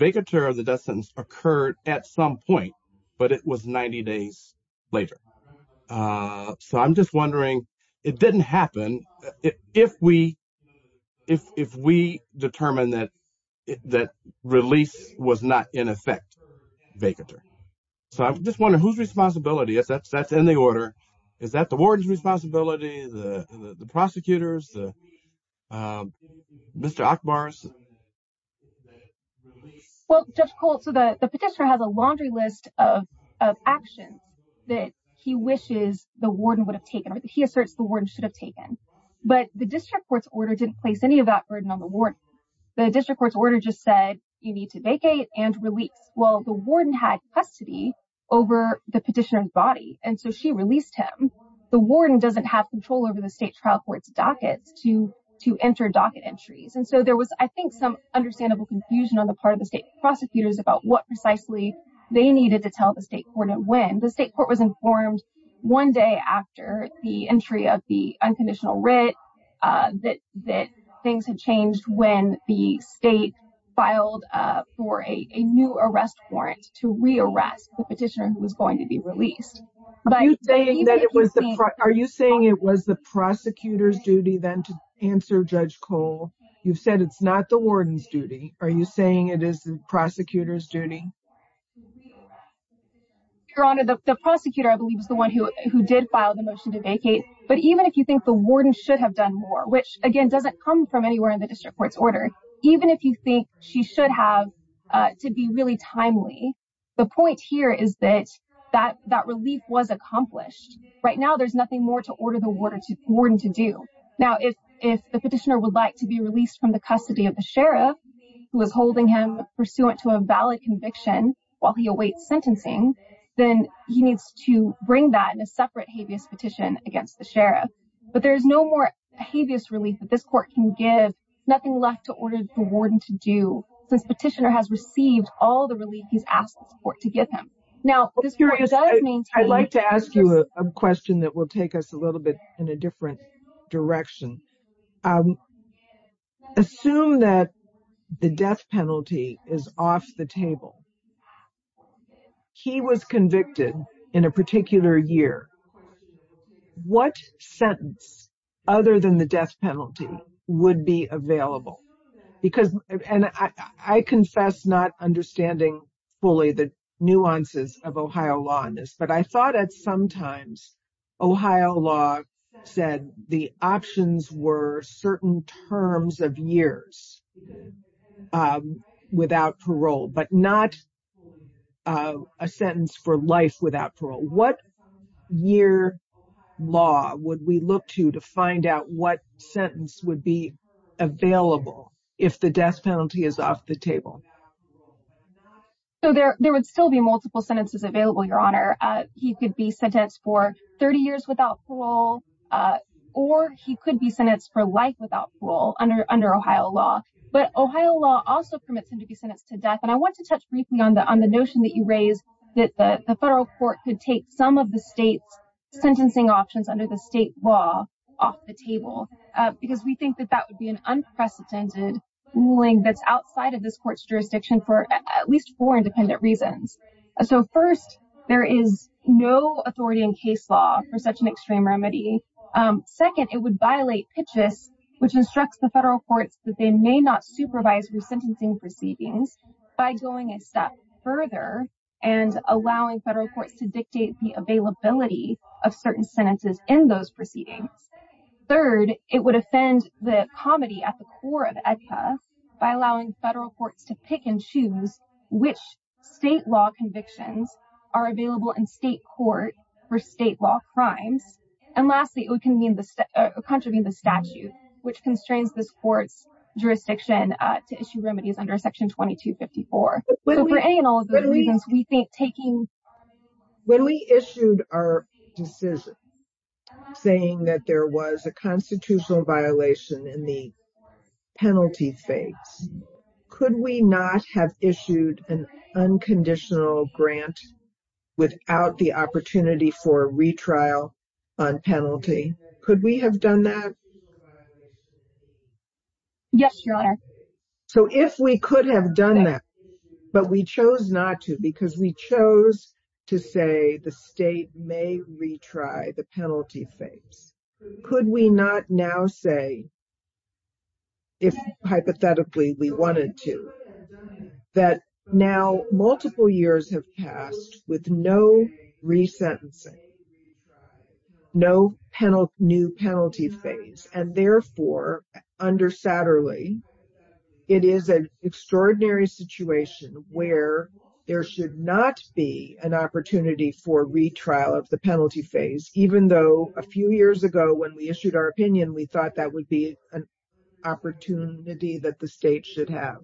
Vacatur of the death sentence occurred at some point, but it was 90 days later. So I'm just wondering, it didn't happen. If we determine that release was not in effect, vacatur. So I'm just wondering whose responsibility is that? That's in the order. Is that the warden's responsibility? The prosecutor's? Mr. Ackbar's? Well, Judge Colt, so the petitioner has a laundry list of actions that he wishes the warden would have taken, or that he asserts the warden should have taken. But the district court's order didn't place any of that burden on the warden. The district court's order just said you need to vacate and release. Well, the warden had custody over the petitioner's body. And so she released him. The warden doesn't have control over the state trial court's dockets to, to enter docket entries. And so there was, I think, some understandable confusion on the part of the state prosecutors about what precisely they needed to tell the state court and when. The state court was informed one day after the entry of the unconditional writ that things had changed when the state filed for a new arrest warrant to re-arrest the petitioner who was going to be released. Are you saying it was the prosecutor's duty then to answer Judge Colt? You've said it's not the warden's duty. Are you saying it is the prosecutor's duty? Your Honor, the prosecutor, I believe, is the one who did file the motion to vacate. But even if you think the warden should have done more, which again, doesn't come from anywhere in the district court's order, even if you think she should have to be really timely, the point here is that that relief was accomplished. Right now, there's nothing more to order the warden to do. Now, if the petitioner would like to be released from the custody of the sheriff, who is holding him pursuant to a valid conviction while he awaits sentencing, then he needs to bring that in a separate habeas petition against the sheriff. But there's no more habeas relief that this court can give, nothing left to order the warden to do, since the petitioner has received all the relief he's asked the court to give him. Now, I'd like to ask you a question that will take us a little bit in a different direction. Assume that the death penalty is off the table. He was convicted in a particular year. What sentence, other than the death penalty, would be available? And I confess not understanding fully the nuances of Ohio law in this, but I thought at some times Ohio law said the options were certain terms of years without parole, but not a sentence for life without parole. What year law would we look to to find out what sentence would be available if the death penalty is off the table? So there would still be multiple sentences available, Your Honor. He could be sentenced for 30 years without parole, or he could be sentenced for life without parole under Ohio law. But Ohio law also permits him to be sentenced to death. And I want to touch briefly on the notion that you raised, that the federal court could take some of the state's sentencing options under the state law off the table, because we think that that would be an unprecedented ruling that's outside of this court's jurisdiction for at least four independent reasons. So first, there is no authority in case law for such an extreme remedy. Second, it would violate pitches, which instructs the federal courts that they may not supervise resentencing proceedings by going a step further and allowing federal courts to dictate the availability of certain sentences in those proceedings. Third, it would offend the comedy at the core of AEDPA by allowing federal courts to pick and choose which state law convictions are available in state court for state law crimes. And lastly, it would contravene the statute, which constrains this court's jurisdiction to issue remedies under Section 2254. When we issued our decision saying that there was a constitutional violation in the penalty phase, could we not have issued an unconditional grant without the opportunity for a retrial on penalty? Could we have done that? Yes, Your Honor. So if we could have done that, but we chose not to because we chose to say the state may retry the penalty phase, could we not now say, if hypothetically we wanted to, that now multiple years have passed with no resentencing, no new penalty phase? And therefore, under Satterley, it is an extraordinary situation where there should not be an opportunity for retrial of the penalty phase, even though a few years ago when we issued our opinion, we thought that would be an opportunity that the state should have.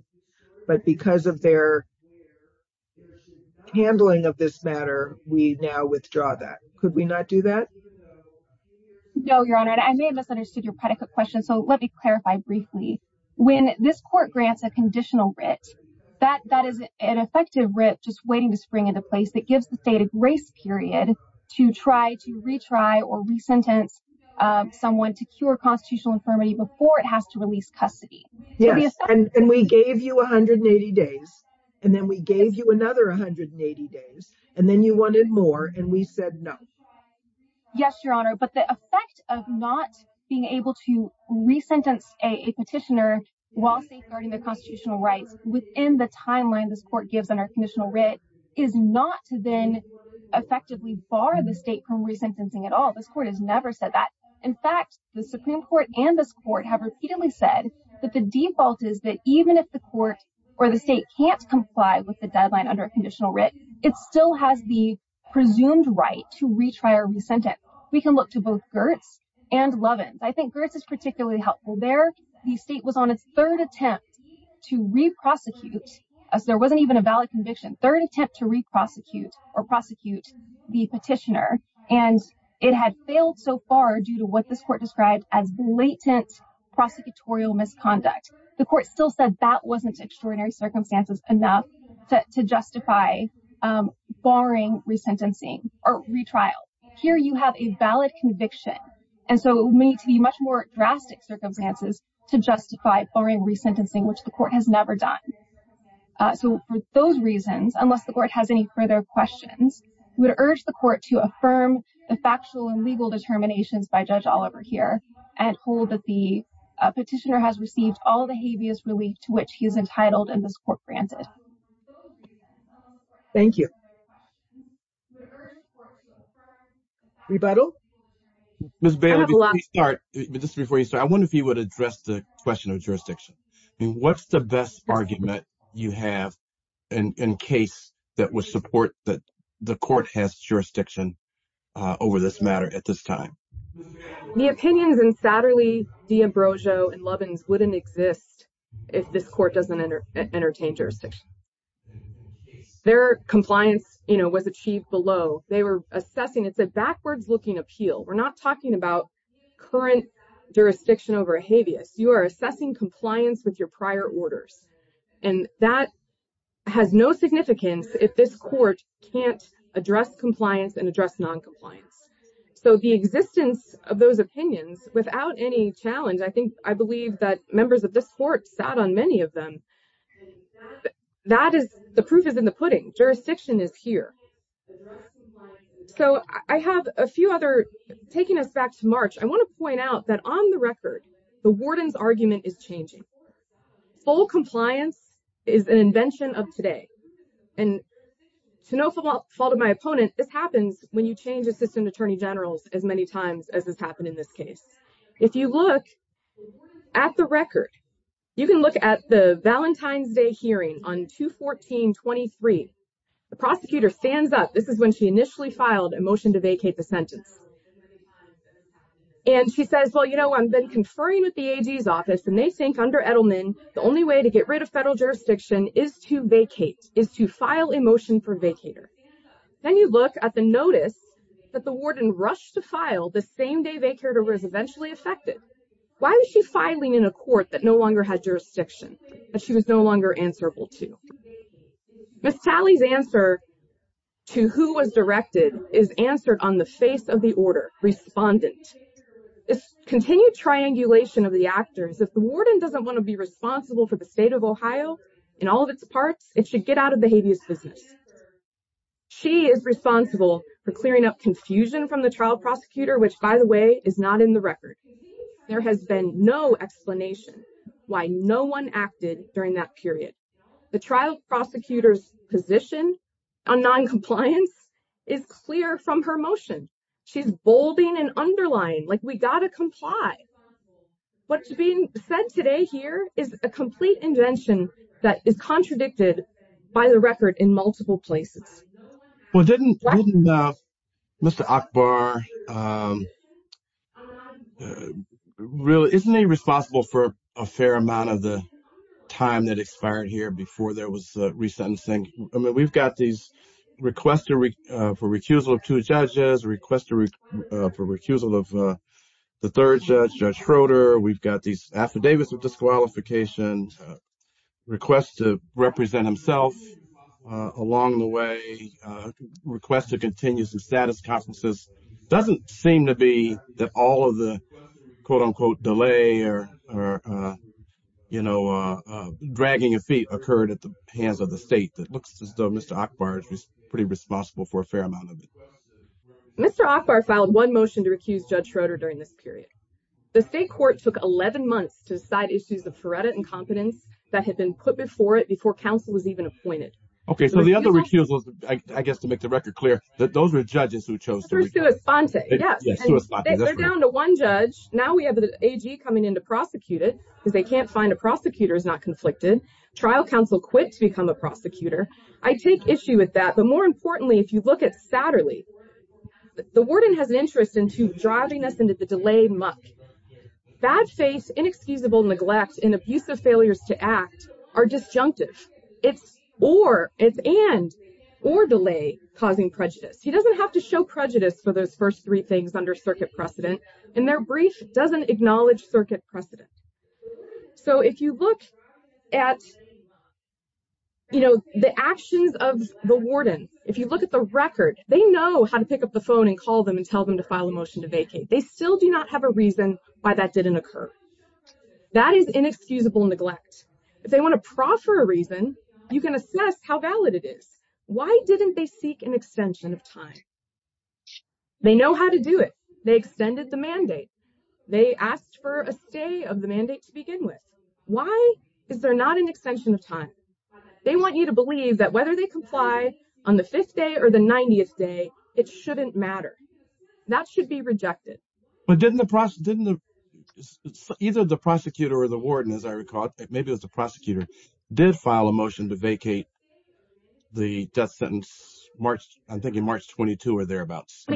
But because of their handling of this matter, we now withdraw that. Could we not do that? No, Your Honor. I may have misunderstood your predicate question, so let me clarify briefly. When this court grants a conditional writ, that is an effective writ just waiting to spring into place that gives the state a grace period to try to retry or resentence someone to cure constitutional infirmity before it has to release custody. Yes, and we gave you 180 days, and then we gave you another 180 days, and then you wanted more, and we said no. Yes, Your Honor, but the effect of not being able to resentence a petitioner while safeguarding their constitutional rights within the timeline this court gives under conditional writ is not to then effectively bar the state from resentencing at all. This court has never said that. In fact, the Supreme Court and this court have repeatedly said that the default is that even if the court or the state can't comply with the deadline under conditional writ, but still has the presumed right to retry or resentence, we can look to both Gertz and Lovins. I think Gertz is particularly helpful there. The state was on its third attempt to re-prosecute, as there wasn't even a valid conviction, third attempt to re-prosecute or prosecute the petitioner, and it had failed so far due to what this court described as blatant prosecutorial misconduct. The court still said that wasn't extraordinary circumstances enough to justify barring resentencing or retrial. Here you have a valid conviction, and so we need to be much more drastic circumstances to justify barring resentencing, which the court has never done. So for those reasons, unless the court has any further questions, we would urge the court to affirm the factual and legal determinations by Judge Oliver here, and hold that the petitioner has received all the habeas relief to which he is entitled and this court granted. Thank you. Rebuttal? Ms. Bailey, before you start, I wonder if you would address the question of jurisdiction. What's the best argument you have in case that would support that the court has jurisdiction over this matter at this time? The opinions in Satterley v. Ambrosio v. Lovins wouldn't exist if this court doesn't entertain jurisdiction. Their compliance was achieved below. They were assessing. It's a backwards-looking appeal. We're not talking about current jurisdiction over habeas. You are assessing compliance with your prior orders, and that has no significance if this court can't address compliance and address noncompliance. So the existence of those opinions, without any challenge, I believe that members of this court sat on many of them. The proof is in the pudding. Jurisdiction is here. So I have a few other, taking us back to March, I want to point out that on the record, the warden's argument is changing. Full compliance is an invention of today. And to no fault of my opponent, this happens when you change assistant attorney generals as many times as has happened in this case. If you look at the record, you can look at the Valentine's Day hearing on 2-14-23. The prosecutor stands up. This is when she initially filed a motion to vacate the sentence. And she says, well, you know, I've been conferring with the AG's office, and they think under Edelman, the only way to get rid of federal jurisdiction is to vacate, is to file a motion for vacater. Then you look at the notice that the warden rushed to file the same day vacater was eventually affected. Why was she filing in a court that no longer had jurisdiction, that she was no longer answerable to? Ms. Talley's answer to who was directed is answered on the face of the order, respondent. This continued triangulation of the actors, if the warden doesn't want to be responsible for the state of Ohio in all of its parts, it should get out of the habeas business. She is responsible for clearing up confusion from the trial prosecutor, which, by the way, is not in the record. There has been no explanation why no one acted during that period. The trial prosecutor's position on noncompliance is clear from her motion. She's bolding and underlying, like we got to comply. What's being said today here is a complete invention that is contradicted by the record in multiple places. Mr. Akbar, isn't he responsible for a fair amount of the time that expired here before there was resentencing? We've got these requests for recusal of two judges, requests for recusal of the third judge, Judge Schroeder. We've got these affidavits of disqualification, requests to represent himself along the way, requests to continue some status conferences. It doesn't seem to be that all of the, quote-unquote, delay or, you know, dragging of feet occurred at the hands of the state. It looks as though Mr. Akbar is pretty responsible for a fair amount of it. Mr. Akbar filed one motion to recuse Judge Schroeder during this period. The state court took 11 months to decide issues of freddit and competence that had been put before it before counsel was even appointed. Okay, so the other recusal, I guess, to make the record clear, those were judges who chose to recuse. They're down to one judge. Now we have the AG coming in to prosecute it because they can't find a prosecutor who's not conflicted. Trial counsel quit to become a prosecutor. I take issue with that, but more importantly, if you look at Satterley, the warden has an interest into driving us into the delay muck. Bad faith, inexcusable neglect, and abusive failures to act are disjunctive. It's or, it's and, or delay causing prejudice. He doesn't have to show prejudice for those first three things under circuit precedent, and their brief doesn't acknowledge circuit precedent. So if you look at the actions of the warden, if you look at the record, they know how to pick up the phone and call them and tell them to file a motion to vacate. They still do not have a reason why that didn't occur. That is inexcusable neglect. If they want to proffer a reason, you can assess how valid it is. Why didn't they seek an extension of time? They know how to do it. They extended the mandate. They asked for a stay of the mandate to begin with. Why is there not an extension of time? They want you to believe that whether they comply on the fifth day or the 90th day, it shouldn't matter. That should be rejected. But didn't the, didn't the, either the prosecutor or the warden, as I recall, I think it was the prosecutor, did file a motion to vacate the death sentence March, I'm thinking March 22 or thereabouts.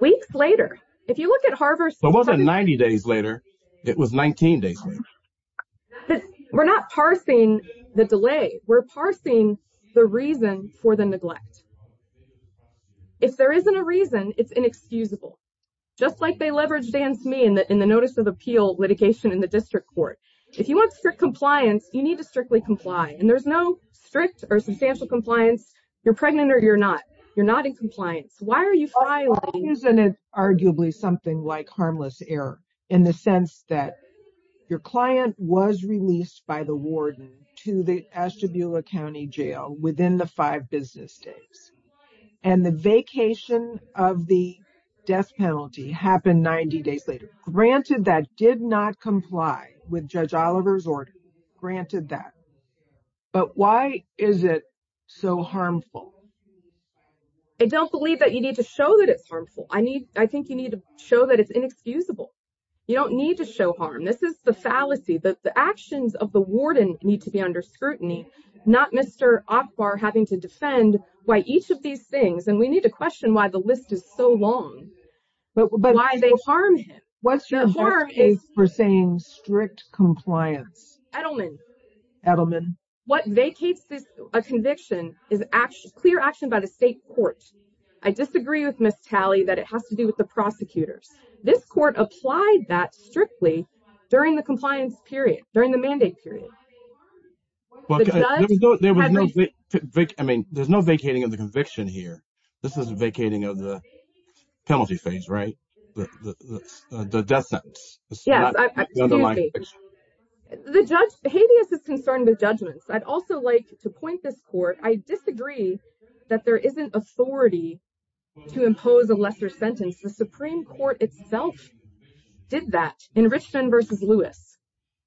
Weeks later, if you look at Harvard. It wasn't 90 days later. It was 19 days later. We're not parsing the delay. We're parsing the reason for the neglect. If there isn't a reason, it's inexcusable. Just like they leveraged Dan's me in the notice of appeal litigation in the district court. If you want strict compliance, you need to strictly comply. And there's no strict or substantial compliance. You're pregnant or you're not. You're not in compliance. Why are you filing? It's arguably something like harmless error in the sense that your client was released by the warden to the Ashtabula County Jail within the five business days. And the vacation of the death penalty happened 90 days later. Granted that did not comply with Judge Oliver's order. Granted that. But why is it so harmful? I don't believe that you need to show that it's harmful. I think you need to show that it's inexcusable. You don't need to show harm. This is the fallacy. The actions of the warden need to be under scrutiny. Not Mr. Akbar having to defend why each of these things. And we need to question why the list is so long. Why they harm him. What's your harm is for saying strict compliance. Edelman. What vacates a conviction is clear action by the state court. I disagree with Ms. Talley that it has to do with the prosecutors. This court applied that strictly during the compliance period. During the mandate period. There was no vacating of the conviction here. This is vacating of the penalty phase, right? The death sentence. Yes. The judge is concerned with judgments. I'd also like to point this court. I disagree that there isn't authority to impose a lesser sentence. The Supreme Court itself did that in Richmond versus Lewis.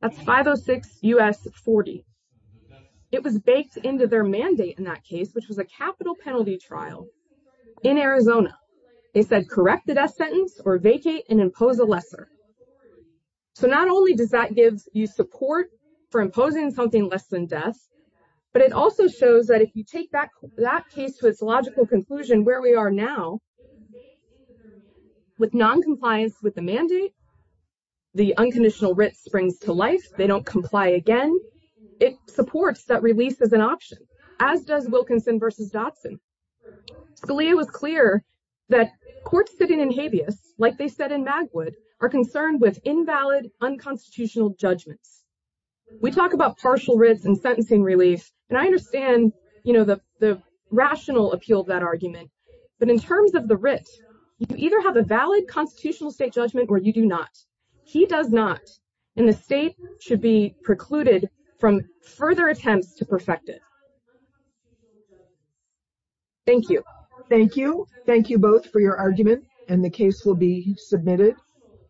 That's 506 U.S. 40. It was baked into their mandate in that case, which was a capital penalty trial. In Arizona. They said, correct the death sentence or vacate and impose a lesser. So not only does that give you support for imposing something less than death. But it also shows that if you take back that case to its logical conclusion, where we are now. With noncompliance with the mandate. The unconditional writ springs to life. They don't comply again. It supports that release as an option, as does Wilkinson versus Dotson. Scalia was clear that courts sitting in habeas, like they said in Magwood, are concerned with invalid, unconstitutional judgments. We talk about partial writs and sentencing relief. And I understand the rational appeal of that argument. But in terms of the writ, you either have a valid constitutional state judgment or you do not. He does not. And the state should be precluded from further attempts to perfect it. Thank you. Thank you. Thank you both for your argument. And the case will be submitted.